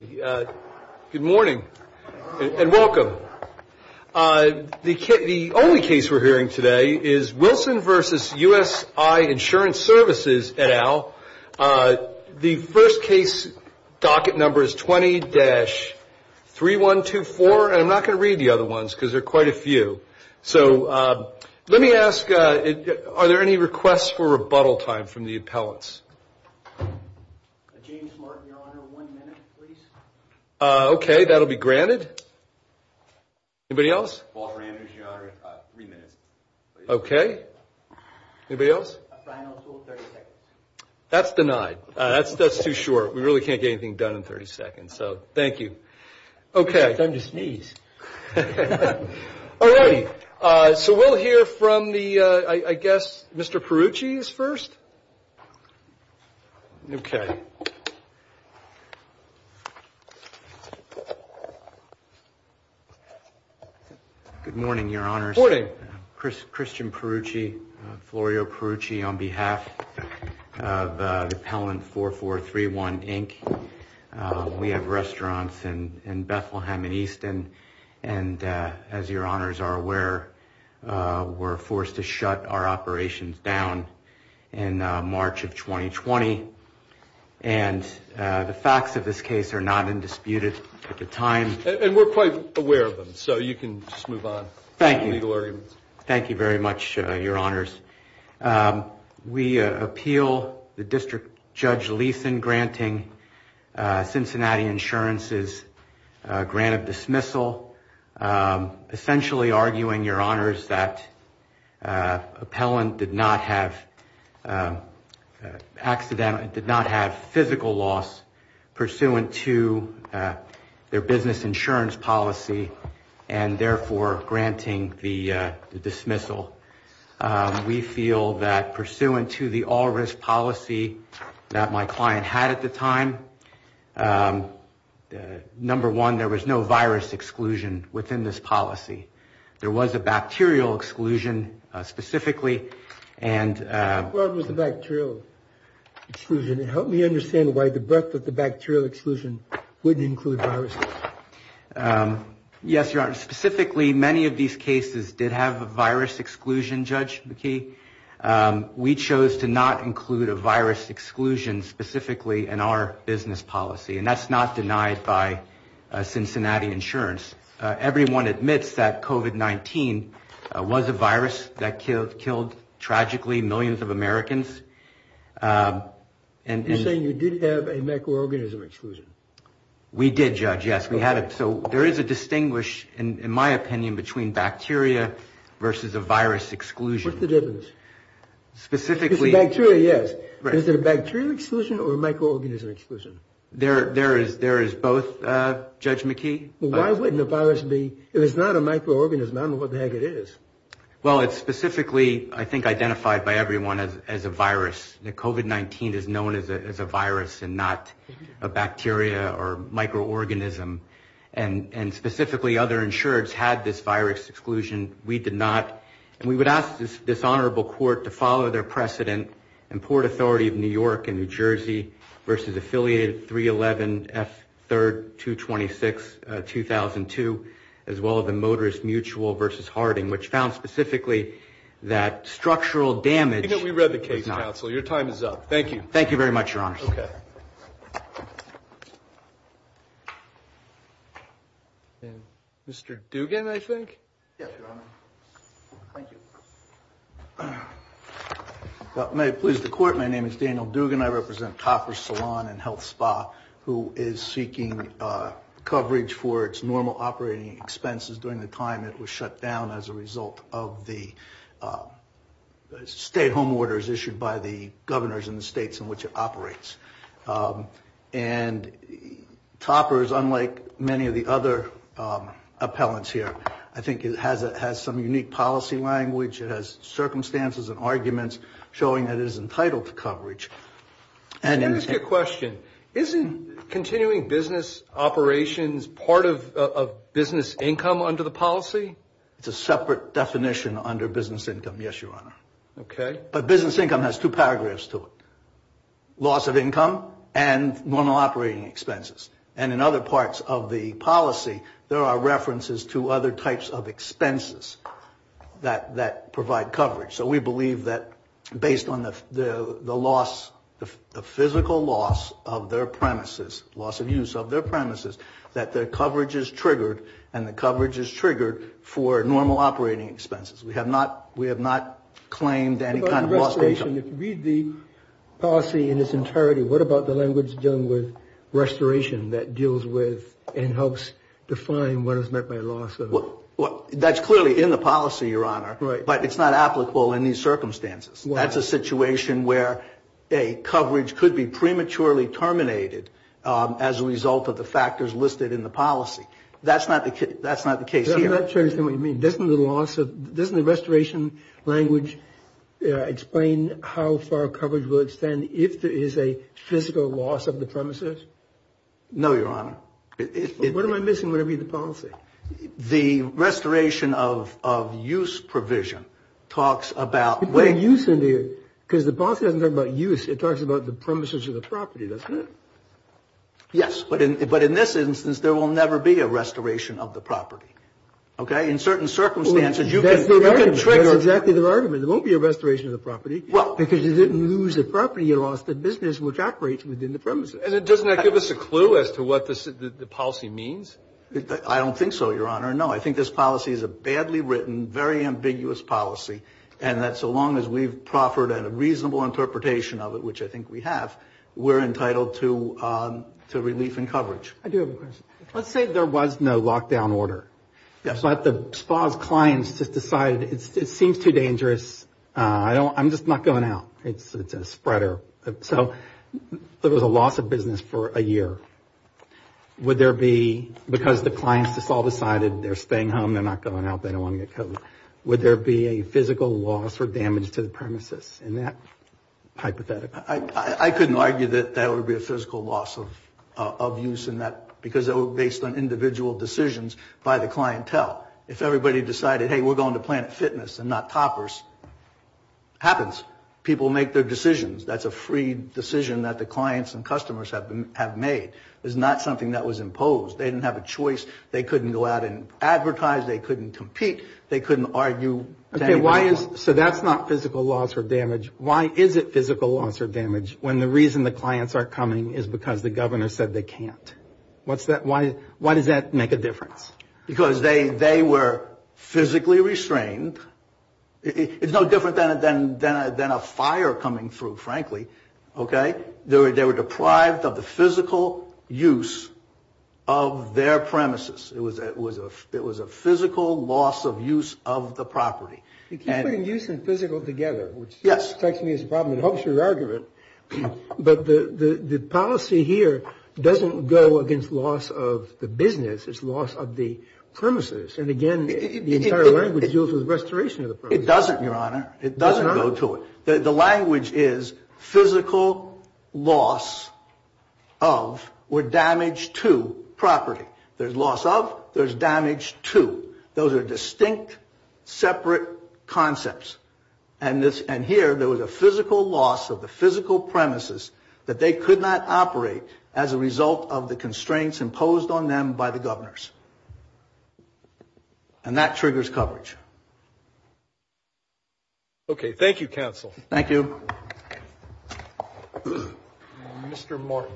Good morning and welcome. The only case we're hearing today is Wilson v. USI Insurance Services et al. The first case docket number is 20-3124, and I'm not going to read the other ones because there are quite a few. So let me ask, are there any requests for rebuttal time from the appellants? James Martin, your honor, one minute, please. Okay, that'll be granted. Anybody else? Walter Andrews, your honor, three minutes, please. Okay. Anybody else? A final rule, 30 seconds. That's denied. That's too short. We really can't get anything done in 30 seconds, so thank you. Okay. It's time to sneeze. All righty. So we'll hear from the, I guess, Mr. Perrucci's first. Okay. Good morning, your honors. Good morning. Christian Perrucci, Florio Perrucci, on behalf of Appellant 4431, Inc. We have restaurants in Bethlehem and Easton, and as your honors are aware, we're forced to shut our operations down in March of 2020. And the facts of this case are not indisputed at the time. And we're quite aware of them, so you can just move on. Thank you. Thank you very much, your honors. We appeal the District Judge Leeson granting Cincinnati Insurance's grant of dismissal, essentially arguing, your honors, that Appellant did not have physical loss pursuant to their business insurance policy, and therefore granting the dismissal. We feel that pursuant to the all-risk policy that my client had at the time, number one, there was no virus exclusion within this policy. There was a bacterial exclusion specifically. What was the bacterial exclusion? And help me understand why the breadth of the bacterial exclusion wouldn't include viruses. Yes, your honors. Specifically, many of these cases did have a virus exclusion, Judge McKee. We chose to not include a virus exclusion specifically in our business policy, and that's not denied by Cincinnati Insurance. Everyone admits that COVID-19 was a virus that killed, tragically, millions of Americans. You're saying you did have a microorganism exclusion? We did, Judge, yes. We had it. So there is a distinguish, in my opinion, between bacteria versus a virus exclusion. What's the difference? Specifically. Bacteria, yes. Is it a bacterial exclusion or a microorganism exclusion? There is both, Judge McKee. Why wouldn't a virus be? If it's not a microorganism, I don't know what the heck it is. Well, it's specifically, I think, identified by everyone as a virus. COVID-19 is known as a virus and not a bacteria or microorganism. And specifically, other insureds had this virus exclusion. We did not. And we would ask this honorable court to follow their precedent in Port Authority of New York and New Jersey versus affiliated 311F32262002, as well as the motorist mutual versus Harding, which found specifically that structural damage. We read the case, counsel. Your time is up. Thank you. Thank you very much, Your Honor. Okay. Mr. Dugan, I think. Yes, Your Honor. Thank you. May it please the court, my name is Daniel Dugan. I represent Topper Salon and Health Spa, who is seeking coverage for its normal operating expenses during the time it was shut down as a result of the state home orders issued by the governors in the states in which it operates. And Topper is unlike many of the other appellants here. I think it has some unique policy language. It has circumstances and arguments showing that it is entitled to coverage. Let me ask you a question. Isn't continuing business operations part of business income under the policy? It's a separate definition under business income, yes, Your Honor. Okay. But business income has two paragraphs to it. Loss of income and normal operating expenses. And in other parts of the policy, there are references to other types of expenses that provide coverage. So we believe that based on the loss, the physical loss of their premises, loss of use of their premises, that the coverage is triggered, and the coverage is triggered for normal operating expenses. We have not claimed any kind of loss of income. I have a question. If you read the policy in its entirety, what about the language dealing with restoration that deals with and helps define what is meant by loss of? That's clearly in the policy, Your Honor. Right. But it's not applicable in these circumstances. That's a situation where a coverage could be prematurely terminated as a result of the factors listed in the policy. That's not the case here. I'm not sure I understand what you mean. Doesn't the restoration language explain how far coverage will extend if there is a physical loss of the premises? No, Your Honor. What am I missing when I read the policy? The restoration of use provision talks about – You put a use in there. Because the policy doesn't talk about use. It talks about the premises of the property, doesn't it? Yes. But in this instance, there will never be a restoration of the property. Okay? In certain circumstances, you can trigger – That's their argument. That's exactly their argument. There won't be a restoration of the property. Well – Because you didn't lose the property. You lost the business which operates within the premises. And doesn't that give us a clue as to what the policy means? I don't think so, Your Honor. No. I think this policy is a badly written, very ambiguous policy. And that so long as we've proffered a reasonable interpretation of it, which I think we have, we're entitled to relief and coverage. I do have a question. Let's say there was no lockdown order. Yes. But the SPA's clients just decided it seems too dangerous. I'm just not going out. It's a spreader. So there was a loss of business for a year. Would there be – because the clients just all decided they're staying home, they're not going out, they don't want to get COVID. Would there be a physical loss or damage to the premises in that hypothetical? I couldn't argue that there would be a physical loss of use in that because it was based on individual decisions by the clientele. If everybody decided, hey, we're going to Planet Fitness and not Toppers, it happens. People make their decisions. That's a free decision that the clients and customers have made. It's not something that was imposed. They didn't have a choice. They couldn't go out and advertise. They couldn't compete. They couldn't argue. Okay. So that's not physical loss or damage. Why is it physical loss or damage when the reason the clients aren't coming is because the governor said they can't? Why does that make a difference? Because they were physically restrained. It's no different than a fire coming through, frankly. Okay? They were deprived of the physical use of their premises. It was a physical loss of use of the property. You keep putting use and physical together, which strikes me as a problem. It helps your argument. But the policy here doesn't go against loss of the business. It's loss of the premises. And, again, the entire language deals with restoration of the premises. It doesn't, Your Honor. It doesn't go to it. The language is physical loss of or damage to property. There's loss of. There's damage to. Those are distinct, separate concepts. And here there was a physical loss of the physical premises that they could not operate as a result of the constraints imposed on them by the governors. And that triggers coverage. Okay. Thank you, counsel. Thank you. Mr. Martin.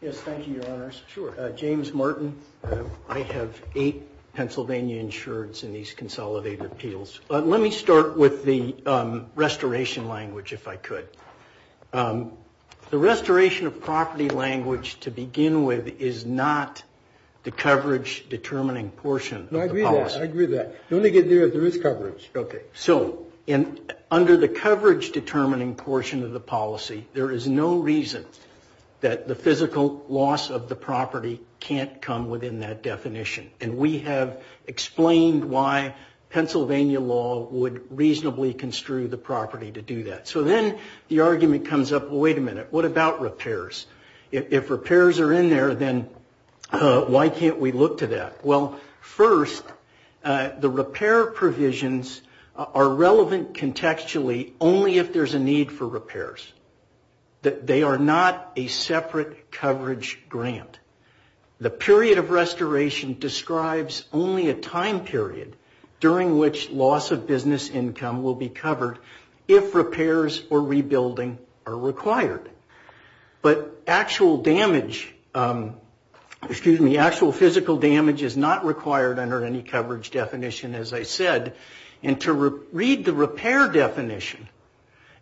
Yes, thank you, Your Honors. Sure. James Martin. I have eight Pennsylvania insureds in these consolidated appeals. Let me start with the restoration language, if I could. The restoration of property language to begin with is not the coverage-determining portion of the policy. I agree with that. I agree with that. You only get there if there is coverage. Okay. So under the coverage-determining portion of the policy, there is no reason that the physical loss of the property can't come within that definition. And we have explained why Pennsylvania law would reasonably construe the property to do that. So then the argument comes up, well, wait a minute. What about repairs? If repairs are in there, then why can't we look to that? Well, first, the repair provisions are relevant contextually only if there is a need for repairs. They are not a separate coverage grant. The period of restoration describes only a time period during which loss of business income will be covered if repairs or rebuilding are required. But actual damage, excuse me, actual physical damage is not required under any coverage definition, as I said. And to read the repair definition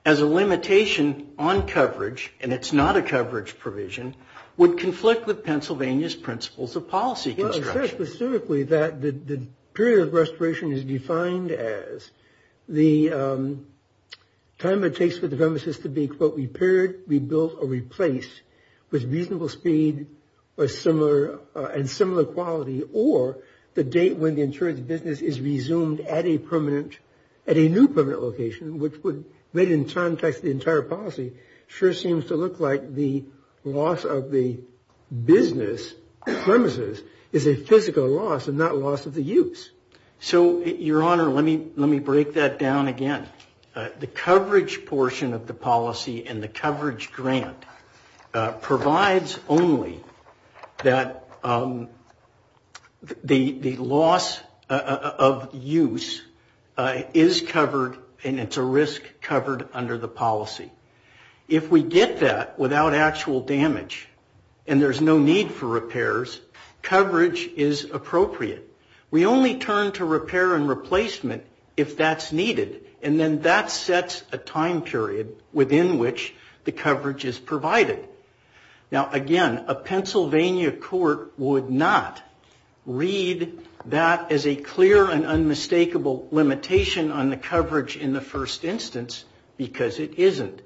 as a limitation on coverage, and it's not a coverage provision, would conflict with Pennsylvania's principles of policy construction. It says specifically that the period of restoration is defined as the time it takes for the premises to be, quote, repaired, rebuilt, or replaced with reasonable speed and similar quality, or the date when the insurance business is resumed at a new permanent location, which would, made in context the entire policy, sure seems to look like the loss of the business premises is a physical loss and not loss of the use. So, Your Honor, let me break that down again. The coverage portion of the policy and the coverage grant provides only that the loss of use is covered and it's a risk covered under the policy. If we get that without actual damage and there's no need for repairs, coverage is appropriate. We only turn to repair and replacement if that's needed. And then that sets a time period within which the coverage is provided. Now, again, a Pennsylvania court would not read that as a clear and unmistakable limitation on the coverage in the first instance because it isn't.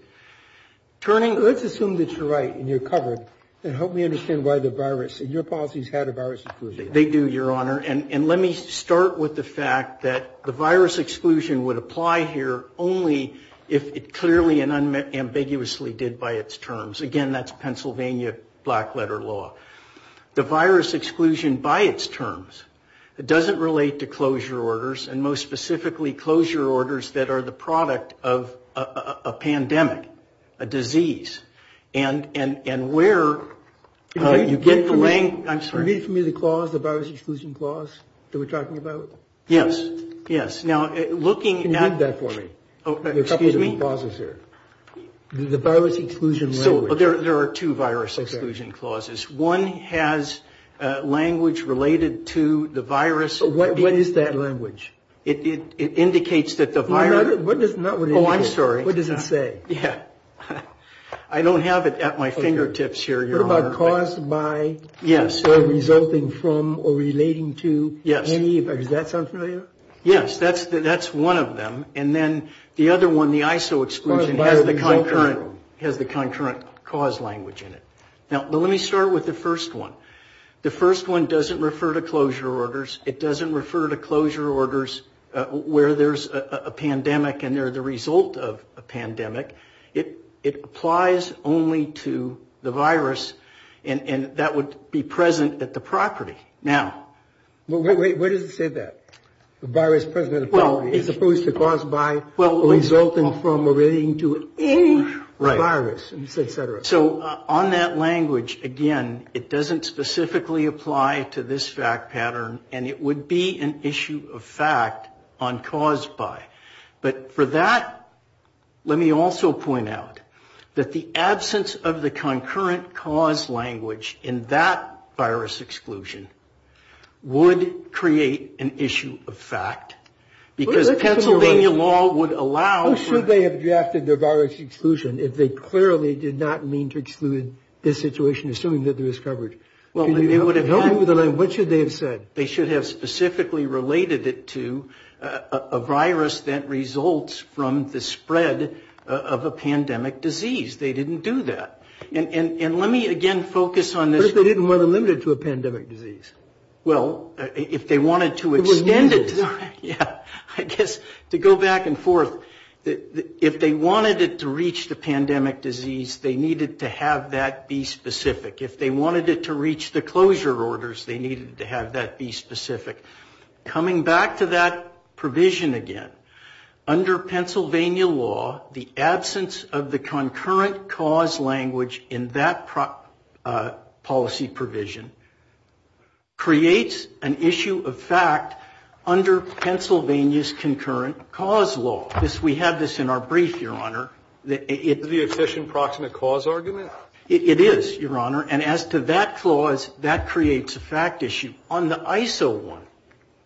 Turning, let's assume that you're right and you're covered and help me understand why the virus in your policies had a virus. They do, Your Honor. And let me start with the fact that the virus exclusion would apply here only if it clearly and unambiguously did by its terms. Again, that's Pennsylvania black letter law, the virus exclusion by its terms. It doesn't relate to closure orders and most specifically closure orders that are the product of a pandemic, a disease. And where you get the language. I'm sorry. You mean for me the clause, the virus exclusion clause that we're talking about? Yes. Yes. Now, looking at. Can you read that for me? Excuse me. There are a couple of clauses here. The virus exclusion language. So there are two virus exclusion clauses. One has language related to the virus. What is that language? It indicates that the virus. What does that mean? Oh, I'm sorry. What does it say? Yeah. I don't have it at my fingertips here, Your Honor. What about caused by? Yes. Or resulting from or relating to? Yes. Does that sound familiar? Yes. That's one of them. And then the other one, the ISO exclusion has the concurrent cause language in it. Now, let me start with the first one. The first one doesn't refer to closure orders. It doesn't refer to closure orders where there's a pandemic and they're the result of a pandemic. It applies only to the virus. And that would be present at the property. Now. Wait. Where does it say that? The virus present at the property is supposed to cause by resulting from relating to any virus, et cetera. So on that language, again, it doesn't specifically apply to this fact pattern. And it would be an issue of fact on caused by. But for that, let me also point out that the absence of the concurrent cause language in that virus exclusion would create an issue of fact. Because Pennsylvania law would allow. Who should they have drafted their virus exclusion if they clearly did not mean to exclude this situation assuming that there is coverage? What should they have said? They should have specifically related it to a virus that results from the spread of a pandemic disease. They didn't do that. And let me again focus on this. They didn't want to limit it to a pandemic disease. Well, if they wanted to extend it. I guess to go back and forth. If they wanted it to reach the pandemic disease, they needed to have that be specific. If they wanted it to reach the closure orders, they needed to have that be specific. Coming back to that provision again. Under Pennsylvania law, the absence of the concurrent cause language in that policy provision creates an issue of fact under Pennsylvania's concurrent cause law. We have this in our brief, Your Honor. Is this the efficient proximate cause argument? It is, Your Honor. And as to that clause, that creates a fact issue. On the ISO one,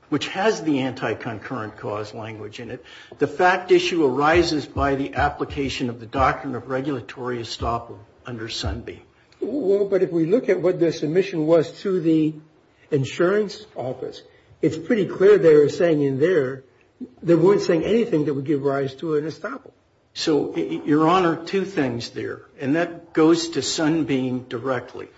which has the anti-concurrent cause language in it, the fact issue arises by the application of the doctrine of regulatory estoppel under Sunbeam. Well, but if we look at what their submission was to the insurance office, it's pretty clear they were saying in there they weren't saying anything that would give rise to an estoppel. So, Your Honor, two things there. And that goes to Sunbeam directly.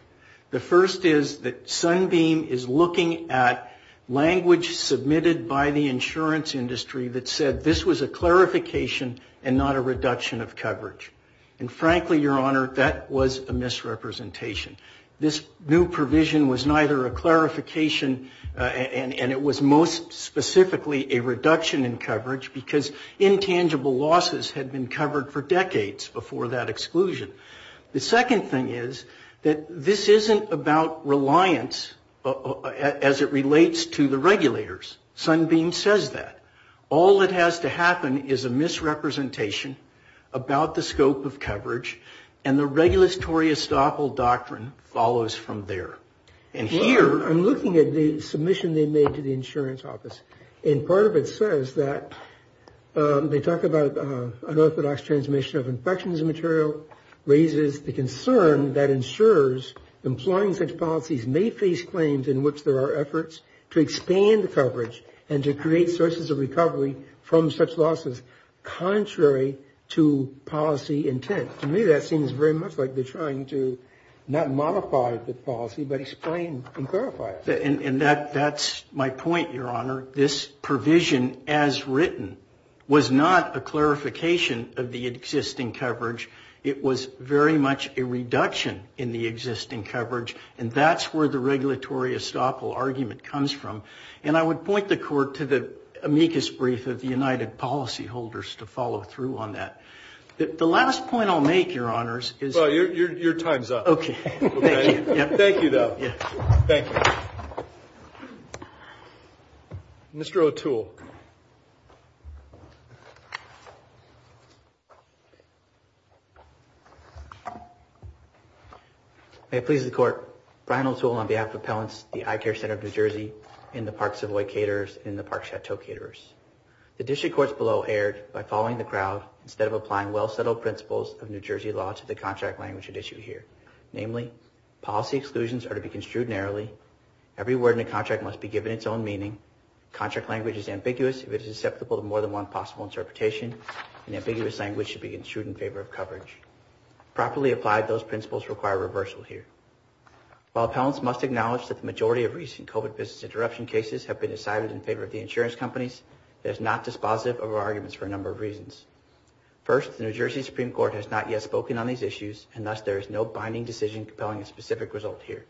The first is that Sunbeam is looking at language submitted by the insurance industry that said this was a clarification and not a reduction of coverage. And frankly, Your Honor, that was a misrepresentation. This new provision was neither a clarification and it was most specifically a reduction in coverage because intangible losses had been covered for decades before that exclusion. The second thing is that this isn't about reliance as it relates to the regulators. Sunbeam says that. All that has to happen is a misrepresentation about the scope of coverage and the regulatory estoppel doctrine follows from there. And here I'm looking at the submission they made to the insurance office. And part of it says that they talk about an orthodox transmission of infection as a material raises the concern that insurers employing such policies may face claims in which there are efforts to expand coverage and to create sources of recovery from such losses contrary to policy intent. To me that seems very much like they're trying to not modify the policy but explain and clarify it. And that's my point, Your Honor. This provision as written was not a clarification of the existing coverage. It was very much a reduction in the existing coverage. And that's where the regulatory estoppel argument comes from. And I would point the Court to the amicus brief of the United Policyholders to follow through on that. The last point I'll make, Your Honors, is... Well, your time's up. Okay. Thank you, though. Thank you. Mr. O'Toole. May it please the Court, Brian O'Toole on behalf of Appellants, the Eye Care Center of New Jersey, and the Park Savoy Caterers, and the Park Chateau Caterers. The District Courts below erred by following the crowd instead of applying well-settled principles of New Jersey law to the contract language at issue here. Namely, policy exclusions are to be construed narrowly. Every word in a contract must be given its own meaning. Contract language is ambiguous if it is susceptible to more than one possible interpretation. An ambiguous language should be construed in favor of coverage. Properly applied, those principles require reversal here. While Appellants must acknowledge that the majority of recent COVID business interruption cases have been decided in favor of the insurance companies, it is not dispositive of our arguments for a number of reasons. First, the New Jersey Supreme Court has not yet spoken on these issues, and thus there is no binding decision compelling a specific result here.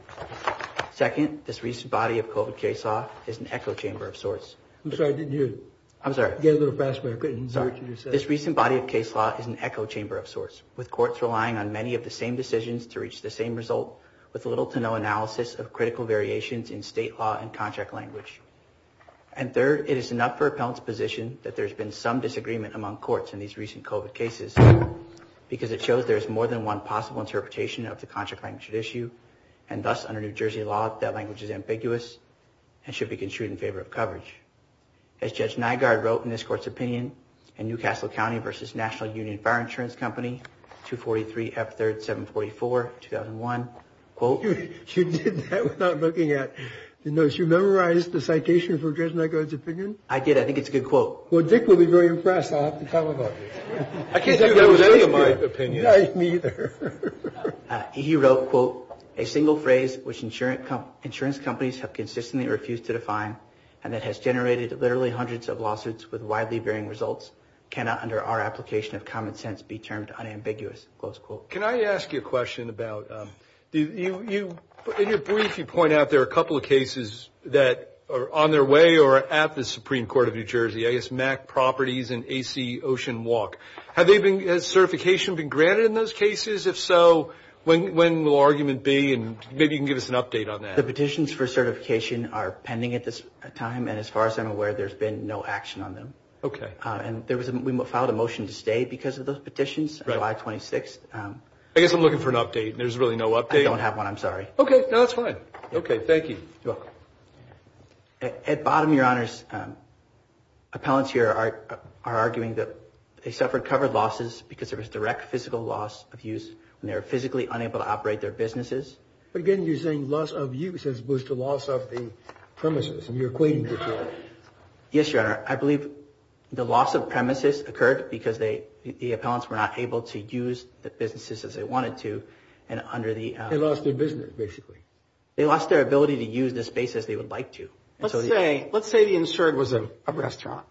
Second, this recent body of COVID case law is an echo chamber of sorts. I'm sorry, I didn't hear you. I'm sorry. You got a little fast, but I couldn't hear what you just said. But this recent body of case law is an echo chamber of sorts, with courts relying on many of the same decisions to reach the same result, with little to no analysis of critical variations in state law and contract language. And third, it is enough for Appellants' position that there has been some disagreement among courts in these recent COVID cases, because it shows there is more than one possible interpretation of the contract language at issue, and thus under New Jersey law, that language is ambiguous and should be construed in favor of coverage. As Judge Nygaard wrote in this court's opinion, in New Castle County v. National Union Fire Insurance Company, 243 F. 3rd 744, 2001, quote. You did that without looking at the notes. You memorized the citation for Judge Nygaard's opinion? I did. I think it's a good quote. Well, Dick will be very impressed. I'll have to tell him about this. I can't do that with any of my opinions. Me either. He wrote, quote, a single phrase which insurance companies have consistently refused to define, and that has generated literally hundreds of lawsuits with widely varying results, cannot under our application of common sense be termed unambiguous, close quote. Can I ask you a question about, you, in your brief, you point out there are a couple of cases that are on their way or at the Supreme Court of New Jersey, I guess MAC Properties and AC Ocean Walk. Has certification been granted in those cases? If so, when will argument be? And maybe you can give us an update on that. The petitions for certification are pending at this time, and as far as I'm aware, there's been no action on them. Okay. And we filed a motion to stay because of those petitions on July 26th. I guess I'm looking for an update. There's really no update. I don't have one. Okay. No, that's fine. Okay. Thank you. You're welcome. At bottom, Your Honors, appellants here are arguing that they suffered covered losses because there was direct physical loss of use when they were physically unable to operate their businesses. But again, you're saying loss of use is supposed to loss of the premises, and you're acquainted with that. Yes, Your Honor. I believe the loss of premises occurred because the appellants were not able to use the businesses as they wanted to, and under the- They lost their business, basically. They lost their ability to use the space as they would like to. Let's say the insured was a restaurant,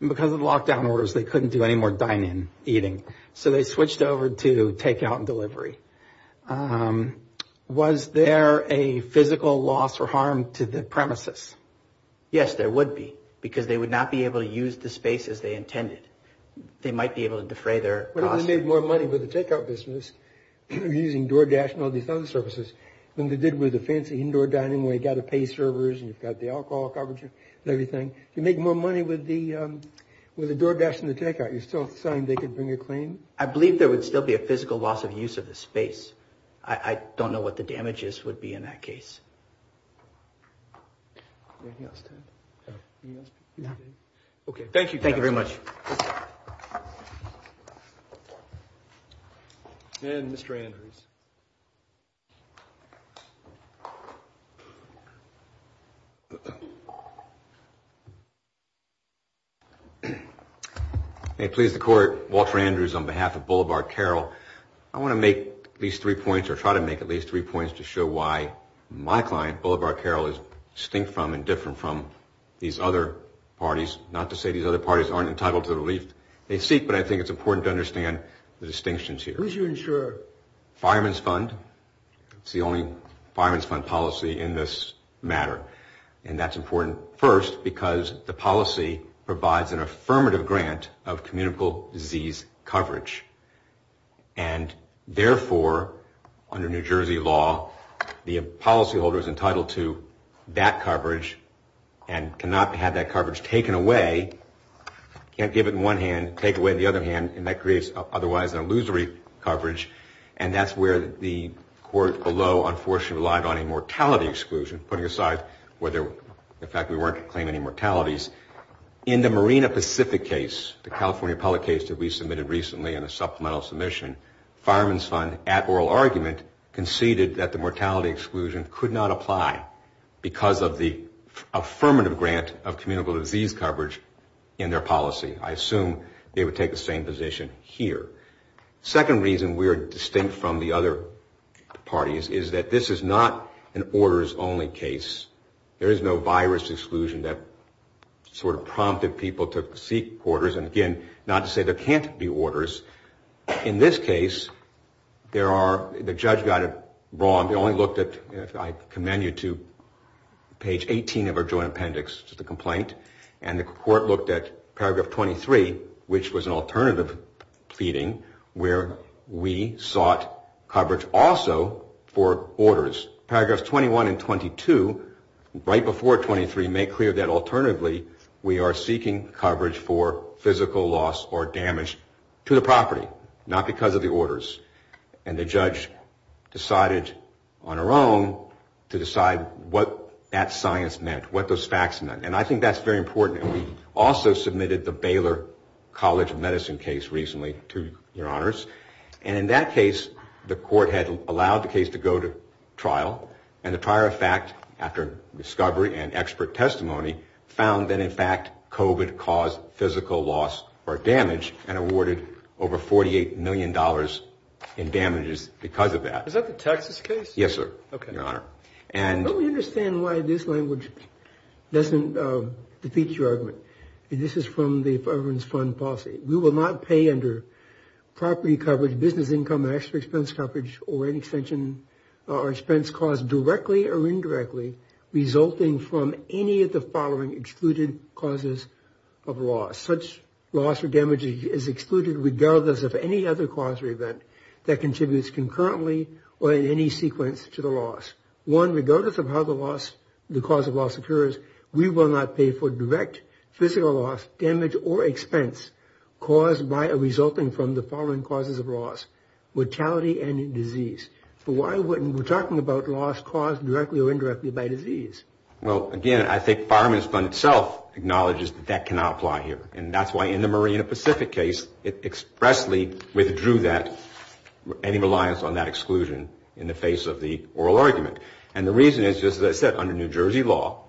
and because of the lockdown orders, they couldn't do any more dine-in eating, so they switched over to take-out and delivery. Was there a physical loss or harm to the premises? Yes, there would be, because they would not be able to use the space as they intended. They might be able to defray their- What if they made more money with the take-out business, using DoorDash and all these other services, than they did with the fancy indoor dining where you've got to pay servers and you've got the alcohol coverage and everything? If you make more money with the DoorDash and the take-out, you're still saying they could bring a claim? I believe there would still be a physical loss of use of the space. I don't know what the damages would be in that case. Okay, thank you. Thank you very much. And Mr. Andrews. May it please the Court, Walter Andrews on behalf of Boulevard Carol. I want to make at least three points, or try to make at least three points to show why my client, Boulevard Carol, is distinct from and different from these other parties. Not to say these other parties aren't entitled to the relief they seek, but I think it's important to understand the distinctions here. Who's your insurer? Fireman's Fund. It's the only Fireman's Fund policy in this matter. And that's important, first, because the policy provides an affirmative grant of communicable disease coverage. And therefore, under New Jersey law, the policyholder is entitled to that coverage and cannot have that coverage taken away. Can't give it in one hand, take it away in the other hand, and that creates otherwise an illusory coverage. And that's where the Court below, unfortunately, relied on a mortality exclusion, putting aside the fact we weren't claiming any mortalities. In the Marina Pacific case, the California public case that we submitted recently in a supplemental submission, Fireman's Fund, at oral argument, conceded that the mortality exclusion could not apply because of the affirmative grant of communicable disease coverage in their policy. I assume they would take the same position here. Second reason we are distinct from the other parties is that this is not an orders only case. There is no virus exclusion that sort of prompted people to seek orders. And again, not to say there can't be orders. In this case, there are, the judge got it wrong. They only looked at, I commend you to page 18 of our joint appendix to the complaint. And the Court looked at paragraph 23, which was an alternative pleading, where we sought coverage also for orders. Paragraphs 21 and 22, right before 23, make clear that alternatively we are seeking coverage for physical loss or damage to the property, not because of the orders. And the judge decided on her own to decide what that science meant, what those facts meant. And I think that's very important. And we also submitted the Baylor College of Medicine case recently to your honors. And in that case, the Court had allowed the case to go to trial. And the prior fact, after discovery and expert testimony, found that in fact COVID caused physical loss or damage, and awarded over $48 million in damages because of that. Is that the Texas case? Yes, sir, your honor. Let me understand why this language doesn't defeat your argument. This is from the Fervent Fund policy. We will not pay under property coverage, business income, extra expense coverage, or an extension or expense caused directly or indirectly, resulting from any of the following excluded causes of loss. Such loss or damage is excluded regardless of any other cause or event that contributes concurrently or in any sequence to the loss. One, regardless of how the cause of loss occurs, we will not pay for direct physical loss, damage, or expense, resulting from the following causes of loss. Mortality and disease. We're talking about loss caused directly or indirectly by disease. Well, again, I think the Fireman's Fund itself acknowledges that that cannot apply here. And that's why in the Marina Pacific case, it expressly withdrew any reliance on that exclusion in the face of the oral argument. And the reason is, just as I said, under New Jersey law,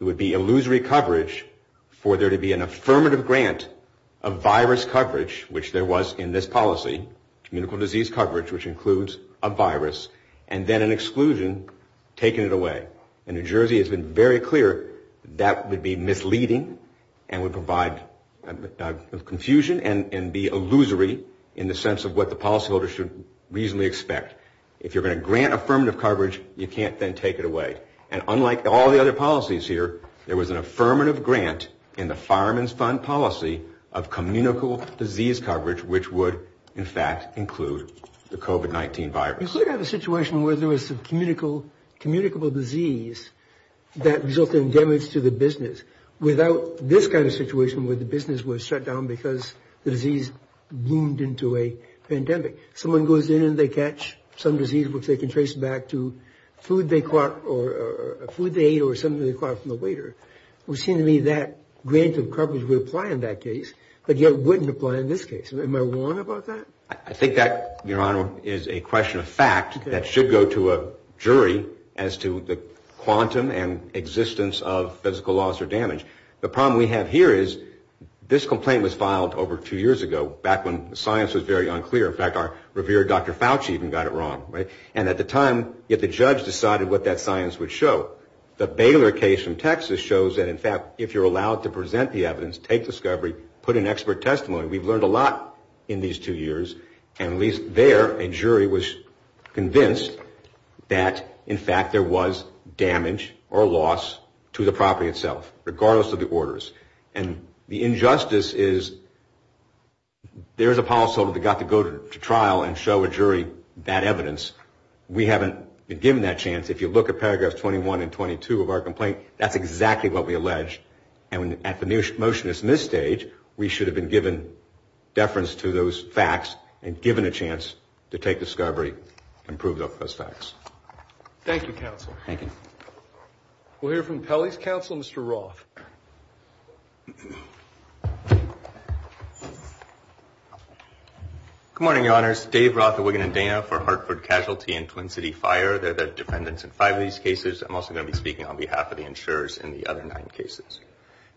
it would be illusory coverage for there to be an affirmative grant of virus coverage, which there was in this policy, communicable disease coverage, which includes a virus, and then an exclusion taking it away. And New Jersey has been very clear that that would be misleading and would provide confusion and be illusory in the sense of what the policyholders should reasonably expect. If you're going to grant affirmative coverage, you can't then take it away. And unlike all the other policies here, there was an affirmative grant in the Fireman's Fund policy of communicable disease coverage, which would, in fact, include the COVID-19 virus. You could have a situation where there was communicable disease that resulted in damage to the business without this kind of situation, where the business was shut down because the disease boomed into a pandemic. Someone goes in and they catch some disease, which they can trace back to food they ate or something they caught from the waiter. It would seem to me that grant of coverage would apply in that case, but yet wouldn't apply in this case. Am I wrong about that? I think that, Your Honor, is a question of fact that should go to a jury as to the quantum and existence of physical loss or damage. The problem we have here is this complaint was filed over two years ago, back when science was very unclear. Dr. Fauci even got it wrong, and at the time, the judge decided what that science would show. The Baylor case from Texas shows that, in fact, if you're allowed to present the evidence, take discovery, put in expert testimony. We've learned a lot in these two years, and at least there, a jury was convinced that, in fact, there was damage or loss to the property itself, regardless of the orders. And the injustice is there's a policyholder that got to go to trial and show a jury that evidence. We haven't been given that chance. If you look at paragraphs 21 and 22 of our complaint, that's exactly what we allege. And at the motion that's in this stage, we should have been given deference to those facts and given a chance to take discovery and prove those facts. Thank you, counsel. Good morning, Your Honors. Dave Roth, a Wigan and Dana for Hartford Casualty and Twin City Fire. They're the defendants in five of these cases. I'm also going to be speaking on behalf of the insurers in the other nine cases.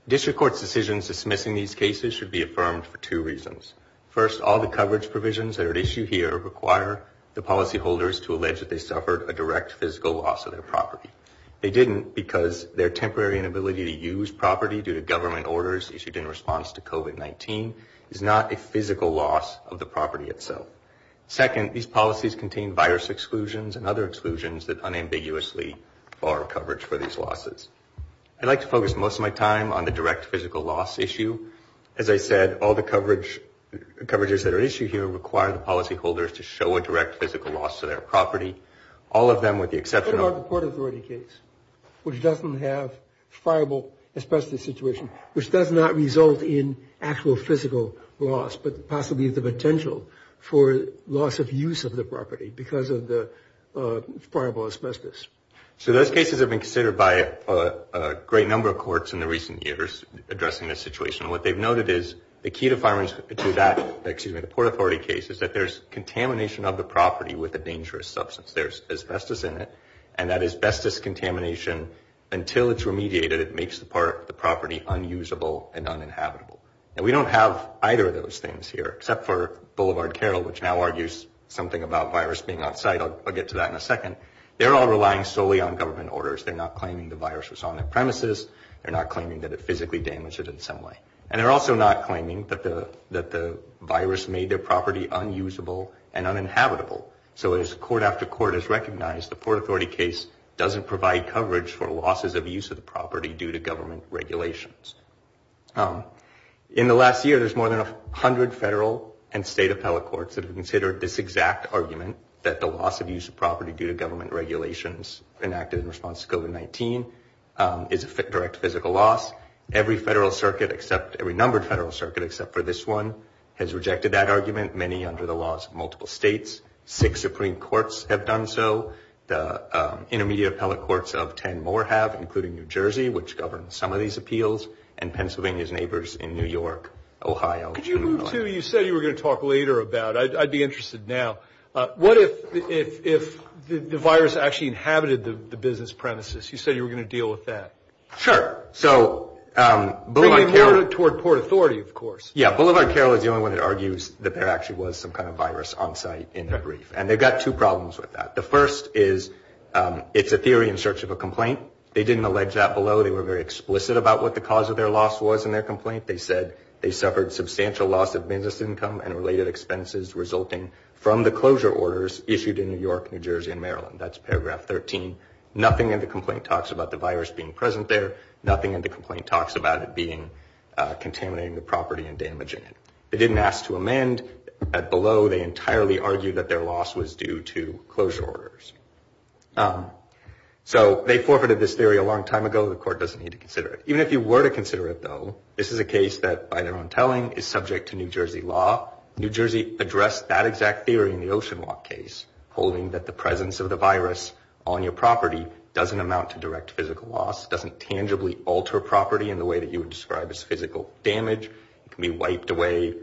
District Court's decisions dismissing these cases should be affirmed for two reasons. First, all the coverage provisions that are at issue here require the policyholders to allege that they suffered a direct physical loss of their property. They didn't because their temporary inability to use property due to government orders issued in response to COVID-19 is not a physical loss of the property itself. Second, these policies contain virus exclusions and other exclusions that unambiguously bar coverage for these losses. I'd like to focus most of my time on the direct physical loss issue. As I said, all the coverages that are at issue here require the policyholders to show a direct physical loss to their property. All of them with the exception of the court authority case, which doesn't have fireable asbestos situation, which does not result in actual physical loss, but possibly the potential for loss of use of the property because of the fireable asbestos. So those cases have been considered by a great number of courts in the recent years addressing this situation. And what they've noted is the key to that court authority case is that there's contamination of the property with a dangerous substance. There's asbestos in it. And that asbestos contamination, until it's remediated, it makes the property unusable and uninhabitable. And we don't have either of those things here, except for Boulevard Carroll, which now argues something about virus being on site. I'll get to that in a second. They're all relying solely on government orders. They're not claiming the virus was on their premises. They're not claiming that it physically damaged it in some way. And they're also not claiming that the virus made their property unusable and uninhabitable. So as court after court has recognized, the court authority case doesn't provide coverage for losses of use of the property due to government regulations. In the last year, there's more than 100 federal and state appellate courts that have considered this exact argument, that the loss of use of property due to government regulations enacted in response to COVID-19 is a direct physical loss. Every federal circuit, every numbered federal circuit except for this one, has rejected that argument, many under the laws of multiple states. Six Supreme Courts have done so. The Intermediate Appellate Courts of 10 more have, including New Jersey, which governs some of these appeals, and Pennsylvania's neighbors in New York, Ohio. Could you move to, you said you were going to talk later about, I'd be interested now, what if the virus actually inhabited the business premises? You said you were going to deal with that. Sure. So Boulevard Carroll is the only one that argues that there actually was some kind of virus on site in that brief. And they've got two problems with that. The first is it's a theory in search of a complaint. They didn't allege that below. They were very explicit about what the cause of their loss was in their complaint. They said they suffered substantial loss of business income and related expenses resulting from the closure orders issued in New York, New Jersey, and Maryland. That's paragraph 13. Nothing in the complaint talks about the virus being present there. Nothing in the complaint talks about it being contaminating the property and damaging it. They didn't ask to amend that below. They entirely argued that their loss was due to closure orders. So they forfeited this theory a long time ago. The court doesn't need to consider it. Even if you were to consider it, though, this is a case that, by their own telling, is subject to New Jersey law. New Jersey addressed that exact theory in the Oceanwalk case, holding that the presence of the virus on your property doesn't amount to direct physical loss, doesn't tangibly alter property in the way that you would describe as physical damage. It can be wiped away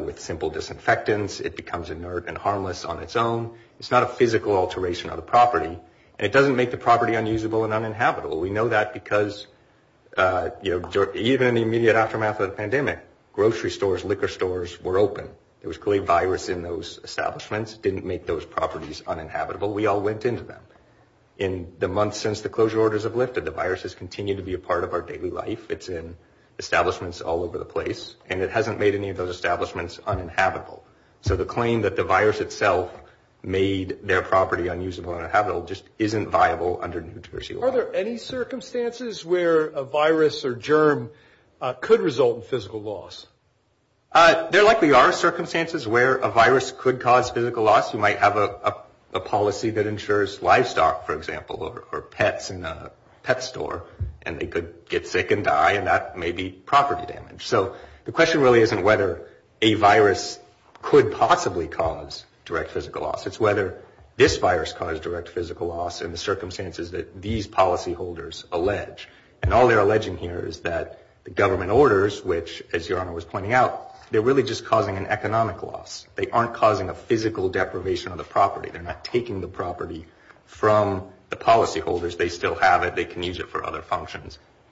with simple disinfectants. It becomes inert and harmless on its own. It's not a physical alteration of the property. And it doesn't make the property unusable and uninhabitable. We know that because, you know, even in the immediate aftermath of the pandemic, grocery stores, liquor stores were open. There was clearly virus in those establishments. It didn't make those properties uninhabitable. We all went into them in the months since the closure orders have lifted. The virus has continued to be a part of our daily life. It's in establishments all over the place, and it hasn't made any of those establishments uninhabitable. So the claim that the virus itself made their property unusable and uninhabitable just isn't viable under New Jersey law. Are there any circumstances where a virus or germ could result in physical loss? There likely are circumstances where a virus could cause physical loss. You might have a policy that ensures livestock, for example, or pets in a pet store. And they could get sick and die, and that may be property damage. So the question really isn't whether a virus could possibly cause direct physical loss. It's whether this virus caused direct physical loss in the circumstances that these policyholders allege. And all they're alleging here is that the government orders, which, as Your Honor was pointing out, they're really just causing an economic loss. They aren't causing a physical deprivation of the property. They're not taking the property from the policyholders. They still have it.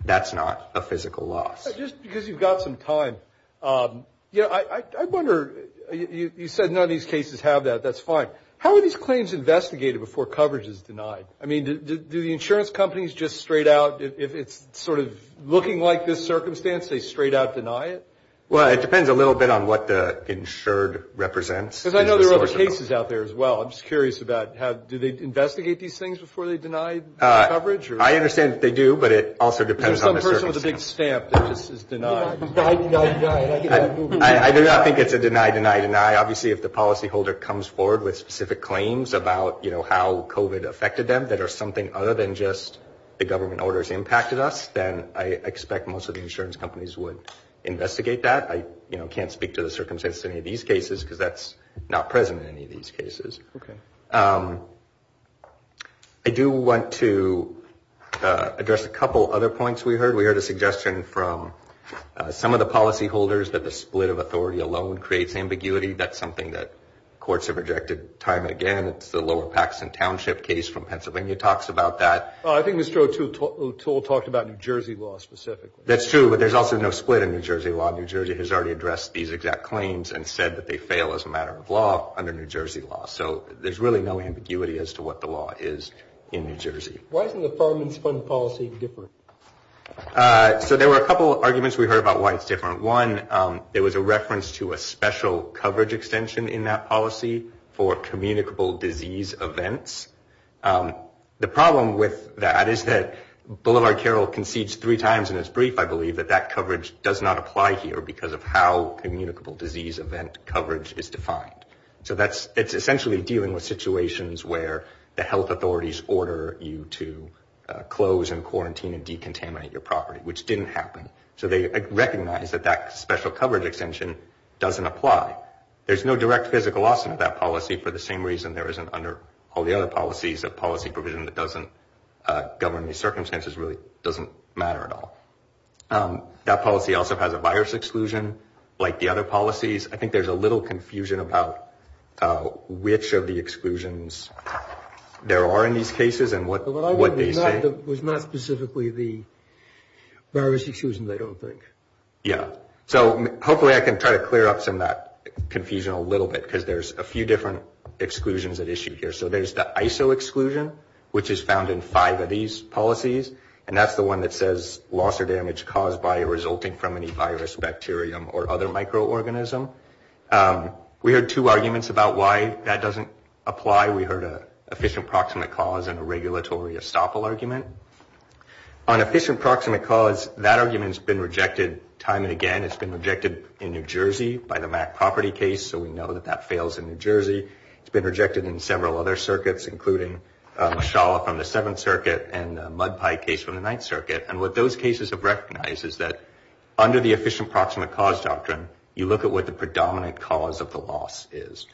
That's not a physical loss. Just because you've got some time, you know, I wonder, you said none of these cases have that. That's fine. How are these claims investigated before coverage is denied? I mean, do the insurance companies just straight out, if it's sort of looking like this circumstance, they straight out deny it? Well, it depends a little bit on what the insured represents. Because I know there are other cases out there as well. I'm just curious about do they investigate these things before they deny coverage? I understand that they do, but it also depends on the circumstances. That was a big stamp that this is denied. I do not think it's a deny, deny, deny. Obviously, if the policyholder comes forward with specific claims about, you know, how COVID affected them that are something other than just the government orders impacted us, then I expect most of the insurance companies would investigate that. I can't speak to the circumstances of any of these cases because that's not present in any of these cases. Okay. I do want to address a couple other points we heard. We heard a suggestion from some of the policyholders that the split of authority alone creates ambiguity. That's something that courts have rejected time and again. It's the Lower Paxton Township case from Pennsylvania talks about that. I think Mr. O'Toole talked about New Jersey law specifically. That's true, but there's also no split in New Jersey law. New Jersey has already addressed these exact claims and said that they fail as a matter of law under New Jersey law. So there's really no ambiguity as to what the law is in New Jersey. Why isn't the Farmers Fund policy different? So there were a couple of arguments we heard about why it's different. One, there was a reference to a special coverage extension in that policy for communicable disease events. The problem with that is that Boulevard Carol concedes three times in its brief, I believe, that that coverage does not apply here because of how communicable disease event coverage is defined. So it's essentially dealing with situations where the health authorities order you to close and quarantine and decontaminate your property, which didn't happen. So they recognize that that special coverage extension doesn't apply. There's no direct physical loss in that policy for the same reason there isn't under all the other policies that policy provision that doesn't govern these circumstances really doesn't matter at all. That policy also has a virus exclusion like the other policies. I think there's a little confusion about which of the exclusions there are in these cases and what they say. It was not specifically the virus exclusion, I don't think. Yeah. So hopefully I can try to clear up some of that confusion a little bit because there's a few different exclusions at issue here. So there's the ISO exclusion, which is found in five of these policies. And that's the one that says loss or damage caused by or resulting from any virus, bacterium, or other microorganism. We heard two arguments about why that doesn't apply. We heard an efficient proximate cause and a regulatory estoppel argument. On efficient proximate cause, that argument's been rejected time and again. It's been rejected in New Jersey by the Mack property case, so we know that that fails in New Jersey. It's been rejected in several other circuits, including Mashallah from the Seventh Circuit and Mud Pie case from the Ninth Circuit. And what those cases have recognized is that under the efficient proximate cause doctrine, you look at what the predominant cause of the loss is.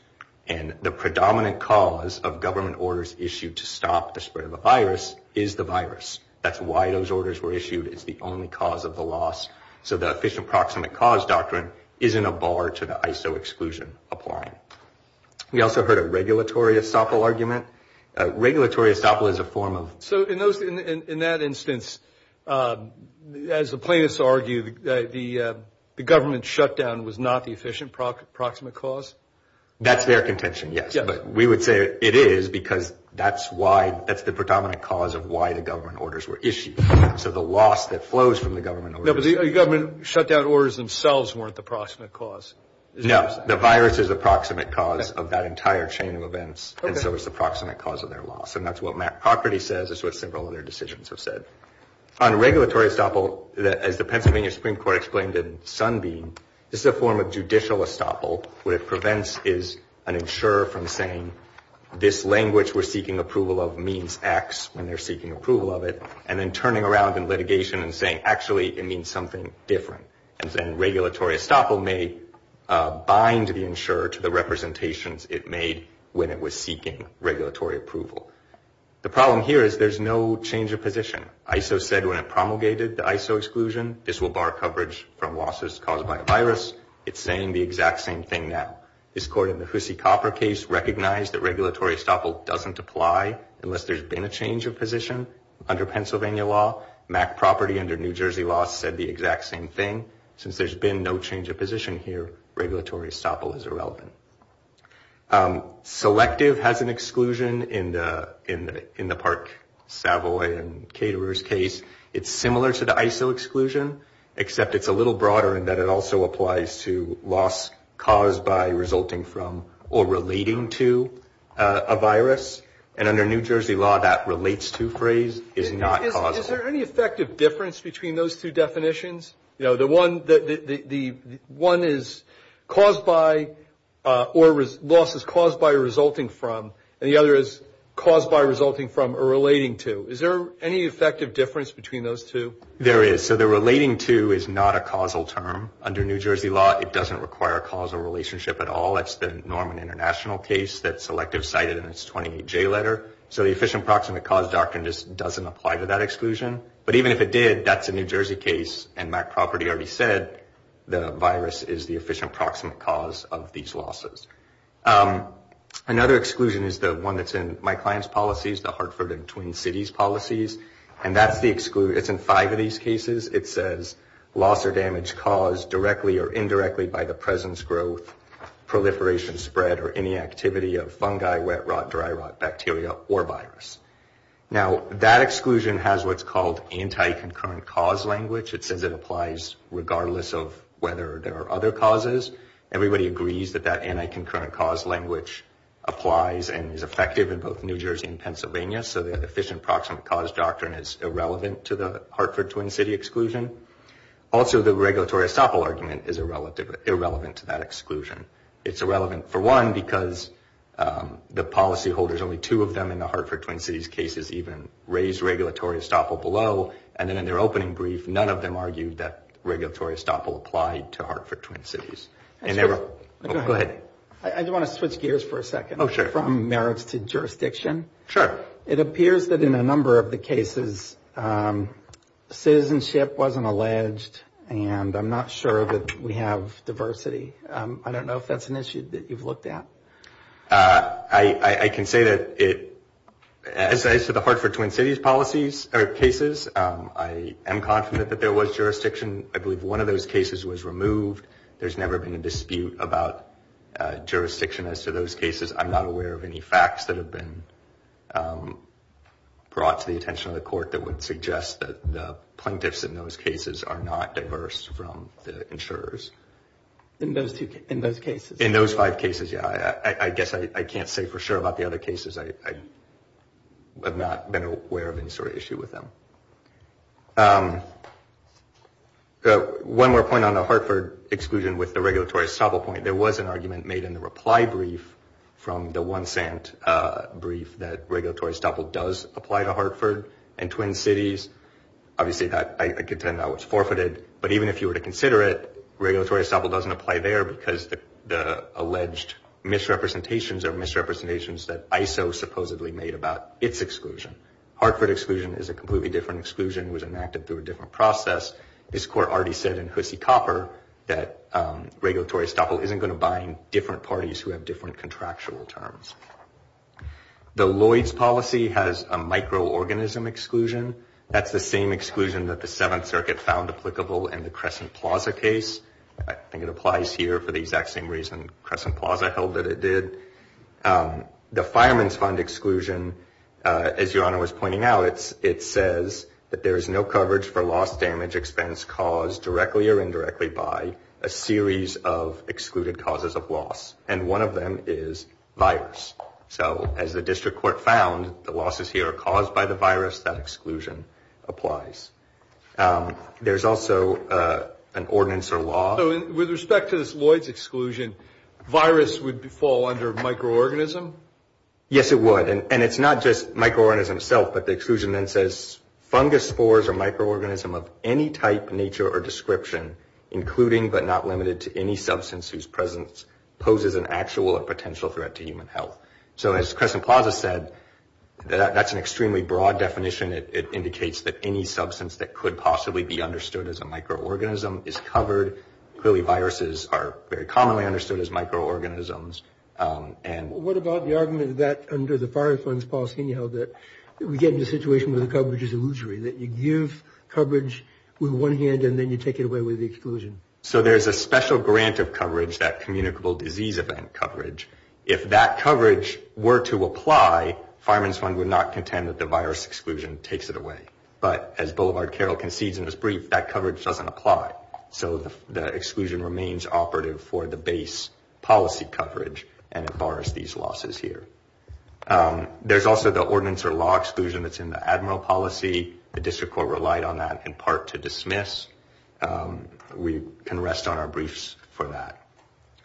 And the predominant cause of government orders issued to stop the spread of a virus is the virus. That's why those orders were issued. It's the only cause of the loss. So the efficient proximate cause doctrine isn't a bar to the ISO exclusion applying. We also heard a regulatory estoppel argument. Regulatory estoppel is a form of... So in that instance, as the plaintiffs argue, the government shutdown was not the efficient proximate cause? That's their contention, yes. But we would say it is, because that's the predominant cause of why the government orders were issued. So the loss that flows from the government orders... No, the virus is the proximate cause of that entire chain of events, and so it's the proximate cause of their loss. And that's what Mack property says. It's what several other decisions have said. On regulatory estoppel, as the Pennsylvania Supreme Court explained in Sunbeam, this is a form of judicial estoppel. What it prevents is an insurer from saying, this language we're seeking approval of means X when they're seeking approval of it, and then turning around in litigation and saying, actually, it means something different. And then regulatory estoppel may bind the insurer to the representations it made when it was seeking regulatory approval. The problem here is there's no change of position. ISO said when it promulgated the ISO exclusion, this will bar coverage from losses caused by a virus. It's saying the exact same thing now. This court in the Hussey-Copper case recognized that regulatory estoppel doesn't apply unless there's been a change of position. Under Pennsylvania law, Mack property under New Jersey law said the exact same thing. Since there's been no change of position here, regulatory estoppel is irrelevant. Selective has an exclusion in the Park Savoy and Caterers case. It's similar to the ISO exclusion, except it's a little broader in that it also applies to loss caused by resulting from or relating to a virus. And under New Jersey law, that relates to phrase is not causal. Is there any effective difference between those two definitions? One is loss is caused by resulting from, and the other is caused by resulting from or relating to. Is there any effective difference between those two? There is. So the relating to is not a causal term. Under New Jersey law, it doesn't require a causal relationship at all. It's the Norman International case that Selective cited in its 28J letter. So the efficient proximate cause doctrine just doesn't apply to that exclusion. But even if it did, that's a New Jersey case, and Mack property already said the virus is the efficient proximate cause of these losses. Another exclusion is the one that's in my client's policies, the Hartford and Twin Cities policies. And that's the exclusion. It's in five of these cases. It says loss or damage caused directly or indirectly by the presence, growth, proliferation, spread, or any activity of fungi, wet rot, dry rot, bacteria, or virus. Now, that exclusion has what's called anti-concurrent cause language. It says it applies regardless of whether there are other causes. Everybody agrees that that anti-concurrent cause language applies and is effective in both New Jersey and Pennsylvania. So the efficient proximate cause doctrine is irrelevant to the Hartford-Twin City exclusion. Also, the regulatory estoppel argument is irrelevant to that exclusion. It's irrelevant, for one, because the policyholders, only two of them in the Hartford-Twin Cities cases even raised regulatory estoppel below. And then in their opening brief, none of them argued that regulatory estoppel applied to Hartford-Twin Cities. Go ahead. I do want to switch gears for a second from merits to jurisdiction. It appears that in a number of the cases, citizenship wasn't alleged, and I'm not sure that we have diversity. I don't know if that's an issue that you've looked at. I can say that it, as I said, the Hartford-Twin Cities policies, or cases, I am confident that there was jurisdiction. I believe one of those cases was removed. There's never been a dispute about jurisdiction as to those cases. I'm not aware of any facts that have been brought to the attention of the court that would suggest that the plaintiffs in those cases are not diverse from the insurers. In those cases? In those five cases, yeah. I guess I can't say for sure about the other cases. I have not been aware of any sort of issue with them. One more point on the Hartford exclusion with the regulatory estoppel point. There was an argument made in the reply brief from the one cent brief that regulatory estoppel does apply to Hartford and Twin Cities. Obviously, I contend that was forfeited. But even if you were to consider it, regulatory estoppel doesn't apply there because the alleged misrepresentations are misrepresentations that ISO supposedly made about its exclusion. Hartford exclusion is a completely different exclusion. It was enacted through a different process. This court already said in Hussy-Copper that regulatory estoppel isn't going to bind different parties who have different contractual terms. The Lloyds policy has a microorganism exclusion. That's the same exclusion that the Seventh Circuit found applicable in the Crescent Plaza case. I think it applies here for the exact same reason Crescent Plaza held that it did. The Fireman's Fund exclusion, as Your Honor was pointing out, it says that there is no coverage for loss, damage, expense caused directly or indirectly by a series of excluded causes of loss. And one of them is virus. So as the district court found, the losses here are caused by the virus, that exclusion applies. There's also an ordinance or law. So with respect to this Lloyds exclusion, virus would fall under microorganism? Yes, it would. And it's not just microorganism itself, but the exclusion then says fungus spores or microorganism of any type, nature or description, including but not limited to any substance whose presence poses an actual or potential threat to human health. So as Crescent Plaza said, that's an extremely broad definition. It indicates that any substance that could possibly be understood as a microorganism is covered. Clearly viruses are very commonly understood as microorganisms. What about the argument that under the Fireman's Fund's policy anyhow that we get into a situation where the coverage is illusory, that you give coverage with one hand and then you take it away with the exclusion? So there's a special grant of coverage, that communicable disease event coverage. If that coverage were to apply, Fireman's Fund would not contend that the virus exclusion takes it away. But as Boulevard Carroll concedes in his brief, that coverage doesn't apply. So the exclusion remains operative for the base policy coverage. And it bars these losses here. There's also the ordinance or law exclusion that's in the admiral policy. The district court relied on that in part to dismiss. We can rest on our briefs for that.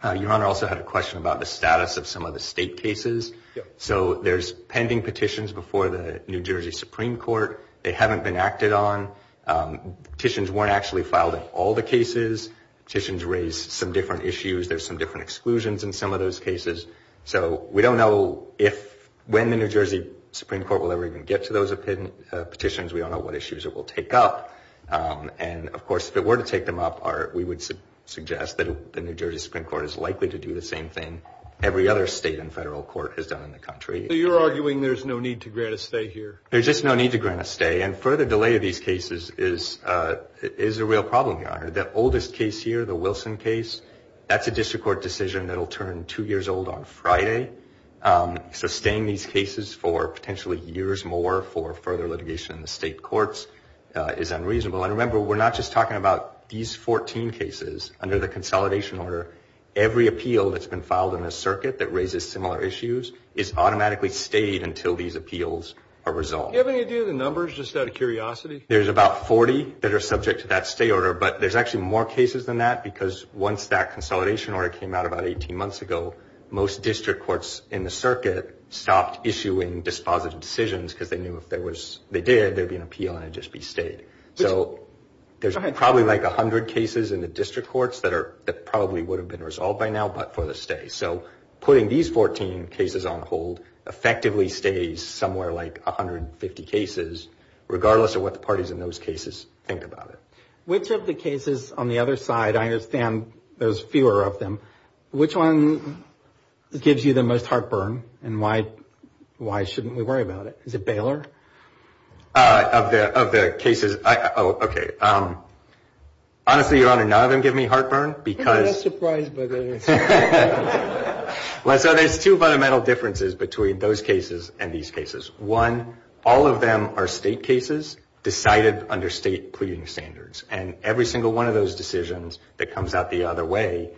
Your Honor, I also had a question about the status of some of the state cases. So there's pending petitions before the New Jersey Supreme Court. They haven't been acted on. Petitions weren't actually filed in all the cases. Petitions raise some different issues. There's some different exclusions in some of those cases. So we don't know when the New Jersey Supreme Court will ever even get to those petitions. We don't know what issues it will take up. And of course, if it were to take them up, we would suggest that the New Jersey Supreme Court is likely to do the same thing every other state and federal court has done in the country. So you're arguing there's no need to grant a stay here? There's just no need to grant a stay. And further delay of these cases is a real problem, Your Honor. The oldest case here, the Wilson case, that's a district court decision that will turn two years old on Friday. Sustaining these cases for potentially years more for further litigation in the state courts is unreasonable. And remember, we're not just talking about these 14 cases under the consolidation order. Every appeal that's been filed in a circuit that raises similar issues is automatically stayed until these appeals are resolved. Do you have any idea of the numbers, just out of curiosity? There's about 40 that are subject to that stay order, but there's actually more cases than that, because the courts in the circuit stopped issuing dispositive decisions because they knew if they did, there'd be an appeal and it'd just be stayed. So there's probably like 100 cases in the district courts that probably would have been resolved by now, but for the stay. So putting these 14 cases on hold effectively stays somewhere like 150 cases, regardless of what the parties in those cases think about it. Which of the cases on the other side, I understand there's fewer of them, which one gives you the most impact? Which one gives you the most heartburn, and why shouldn't we worry about it? Is it Baylor? Of the cases, okay. Honestly, Your Honor, none of them give me heartburn. I'm not surprised by that answer. So there's two fundamental differences between those cases and these cases. One, all of them are state cases decided under state pleading standards, and every single one of those decisions that comes out the other way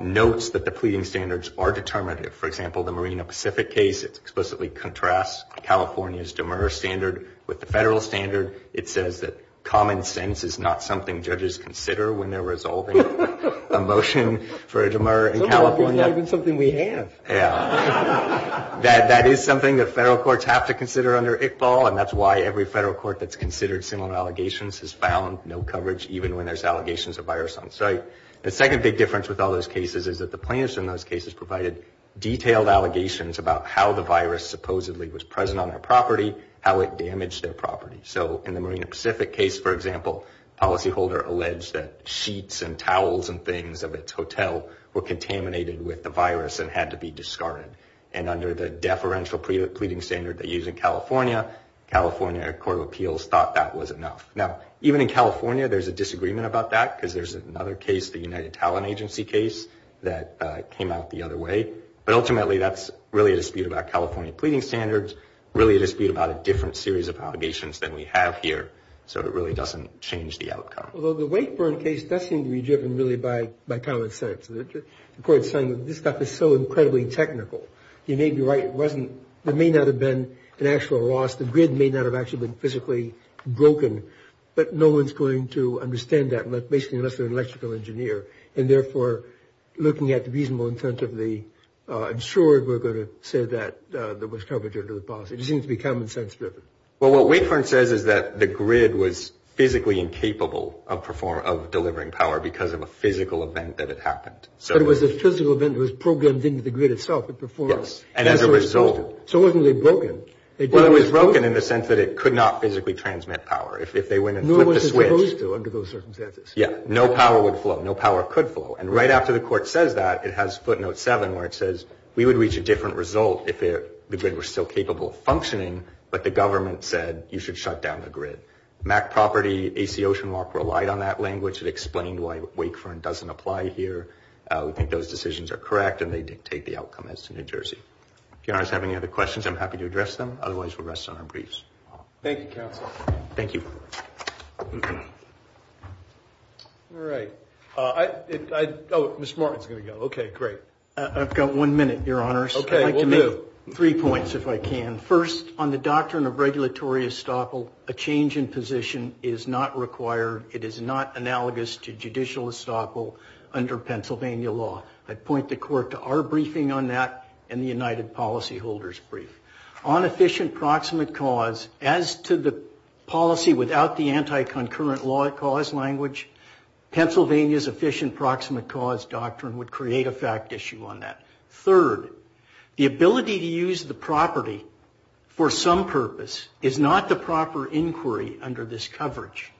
notes that the pleading standards are determinative. For example, the Marina Pacific case, it explicitly contrasts California's DMER standard with the federal standard. It says that common sense is not something judges consider when they're resolving a motion for a DMER in California. It's not even something we have. That is something that federal courts have to consider under ICBAL, and that's why every federal court that's considered similar allegations has found no coverage, even when there's allegations of virus on site. The second big difference with all those cases is that the plaintiffs in those cases provided detailed allegations about how the virus supposedly was present on their property, how it damaged their property. So in the Marina Pacific case, for example, the policyholder alleged that sheets and towels and things of its hotel were contaminated with the virus and had to be discarded. And under the deferential pleading standard they use in California, the California Court of Appeals thought that was enough. Now, even in California there's a disagreement about that, because there's another case, the United Talent Agency case, that came out the other way. But ultimately that's really a dispute about California pleading standards, really a dispute about a different series of allegations than we have here. So it really doesn't change the outcome. Although the Wakeburn case does seem to be driven really by common sense. The court's saying that this stuff is so incredibly technical, you may be right, it may not have been an actual loss, the grid may not have actually been physically broken, but no one's going to understand that, basically unless they're an electrical engineer. And therefore, looking at the reasonable intent of the insurer, we're going to say that there was coverage under the policy. It just seems to be common sense driven. But it was a physical event that was programmed into the grid itself. So it wasn't really broken. Well, it was broken in the sense that it could not physically transmit power. If they went and flipped the switch, no power would flow, no power could flow. And right after the court says that, it has footnote seven where it says, we would reach a different result if the grid were still capable of functioning, but the government said you should shut down the grid. MAC property, AC Oceanwalk relied on that language. It explained why Wakeburn doesn't apply here. We think those decisions are correct and they dictate the outcome as to New Jersey. If you have any other questions, I'm happy to address them, otherwise we'll rest on our briefs. Thank you, counsel. Thank you. I've got one minute, your honors. Three points, if I can. First, on the doctrine of regulatory estoppel, a change in position is not required. It is not analogous to judicial estoppel under Pennsylvania law. I'd point the court to our briefing on that and the United Policyholders' brief. On efficient proximate cause, as to the policy without the anti-concurrent law cause language, Pennsylvania's efficient proximate cause doctrine would create a fact issue on that. Third, the ability to use the property for some purpose is not the proper inquiry under this coverage.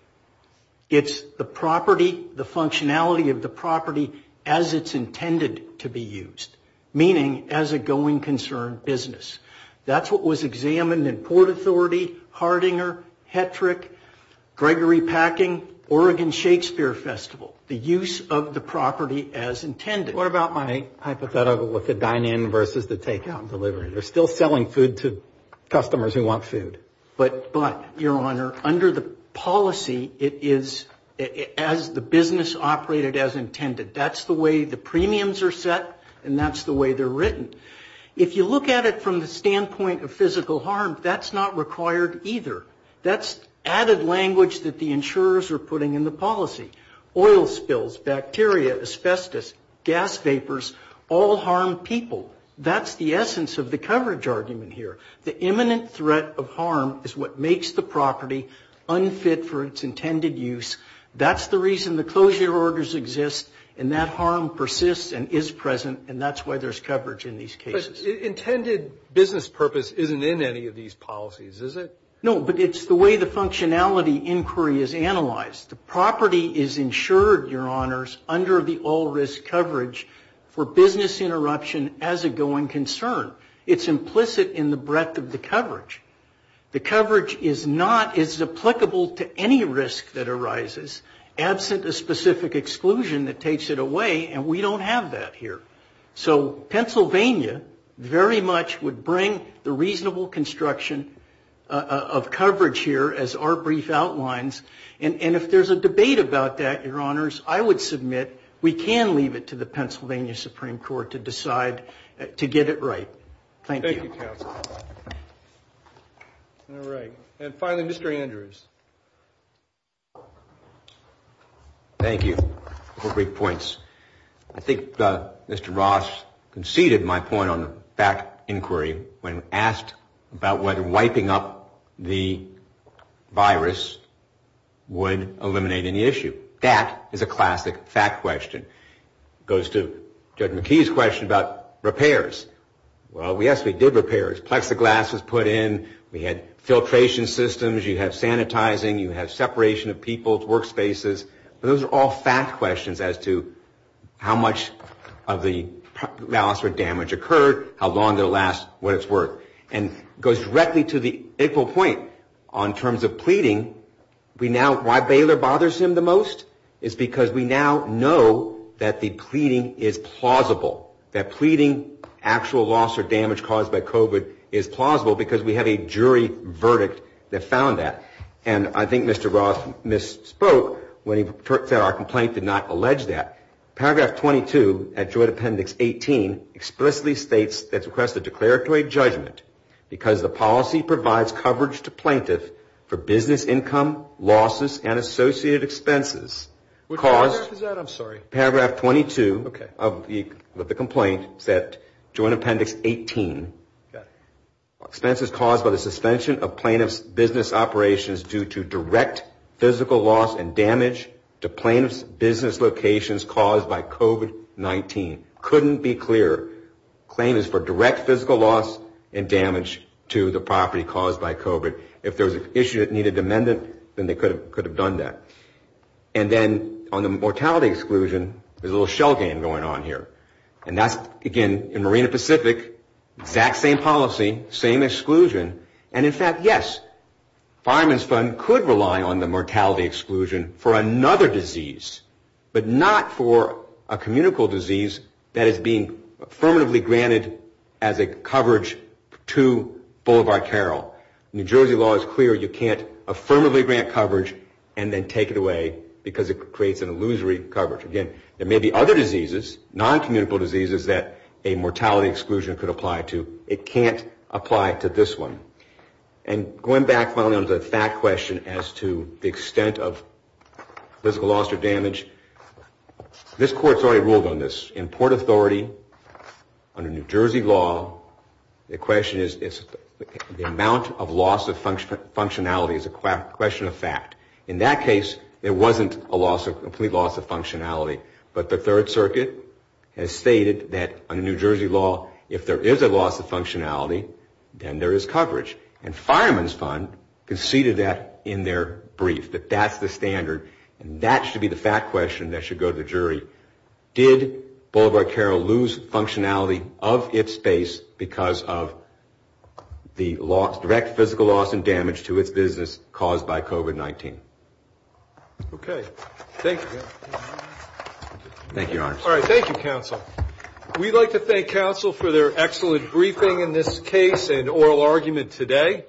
It's the property, the functionality of the property as it's intended to be used, meaning as a going concern business. That's what was examined in Port Authority, Hardinger, Hetrick, Gregory Packing, Oregon Shakespeare Festival. The use of the property as intended. What about my hypothetical with the dine-in versus the takeout and delivery? They're still selling food to customers who want food. But, your honor, under the policy, it is as the business operated as intended. That's the way the premiums are set and that's the way they're written. If you look at it from the standpoint of physical harm, that's not required either. That's added language that the insurers are putting in the policy. Oil spills, bacteria, asbestos, gas vapors all harm people. That's the essence of the coverage argument here. The imminent threat of harm is what makes the property unfit for its intended use. That's the reason the closure orders exist and that harm persists and is present and that's why there's coverage in these cases. But intended business purpose isn't in any of these policies, is it? No, but it's the way the functionality inquiry is analyzed. The property is insured, your honors, under the all-risk coverage for business interruption as a going concern. It's implicit in the breadth of the coverage. The coverage is not as applicable to any risk that arises, absent a specific exclusion that takes it away, and we don't have that here. So Pennsylvania very much would bring the reasonable construction of coverage here as our brief outlines, and if there's a debate about that, your honors, I would submit we can leave it to the Pennsylvania Supreme Court to decide to get it right. Thank you. And finally, Mr. Andrews. Thank you for the brief points. I think Mr. Ross conceded my point on the fact inquiry when asked about whether wiping up the virus would eliminate any issue. That is a classic fact question. It goes to Judge McKee's question about repairs. Well, yes, we did repairs. Plexiglass was put in. We had filtration systems. You have sanitizing. You have separation of people's workspaces. But those are all fact questions as to how much of the loss or damage occurred, how long it will last, what it's worth. And it goes directly to the equal point on terms of pleading. Why Baylor bothers him the most is because we now know that the pleading is plausible. That pleading actual loss or damage caused by COVID is plausible because we have a jury verdict that found that. And I think Mr. Ross misspoke when he said our complaint did not allege that. Paragraph 22 at joint appendix 18 explicitly states that request a declaratory judgment because the policy provides coverage to plaintiff for business income, losses, and associated expenses. Which paragraph is that? I'm sorry. Paragraph 22 of the complaint, joint appendix 18. Expenses caused by the suspension of plaintiff's business operations due to direct physical loss and damage to plaintiff's business locations caused by COVID-19. Couldn't be clearer. Claim is for direct physical loss and damage to the property caused by COVID. If there was an issue that needed an amendment, then they could have done that. And then on the mortality exclusion, there's a little shell game going on here. And that's, again, in Marina Pacific, exact same policy, same exclusion. And in fact, yes, fireman's fund could rely on the mortality exclusion for another disease. But not for a communicable disease that is being affirmatively granted as a coverage to Boulevard Carol. New Jersey law is clear, you can't affirmatively grant coverage and then take it away because it creates an illusory coverage. Again, there may be other diseases, noncommunicable diseases, that a mortality exclusion could apply to. It can't apply to this one. And going back, finally, on the fact question as to the extent of physical loss or damage. This court's already ruled on this. In Port Authority, under New Jersey law, the question is the amount of loss of functionality is a question of fact. In that case, there wasn't a loss, a complete loss of functionality. But the Third Circuit has stated that under New Jersey law, if there is a loss of functionality, then there is coverage. And fireman's fund conceded that in their brief, that that's the standard. And that should be the fact question that should go to the jury. Did Boulevard Carol lose functionality of its space because of the direct physical loss and damage to its business caused by COVID-19? Okay. Thank you. Thank you, Your Honor. All right. Thank you, counsel. We'd like to thank counsel for their excellent briefing in this case and oral argument today.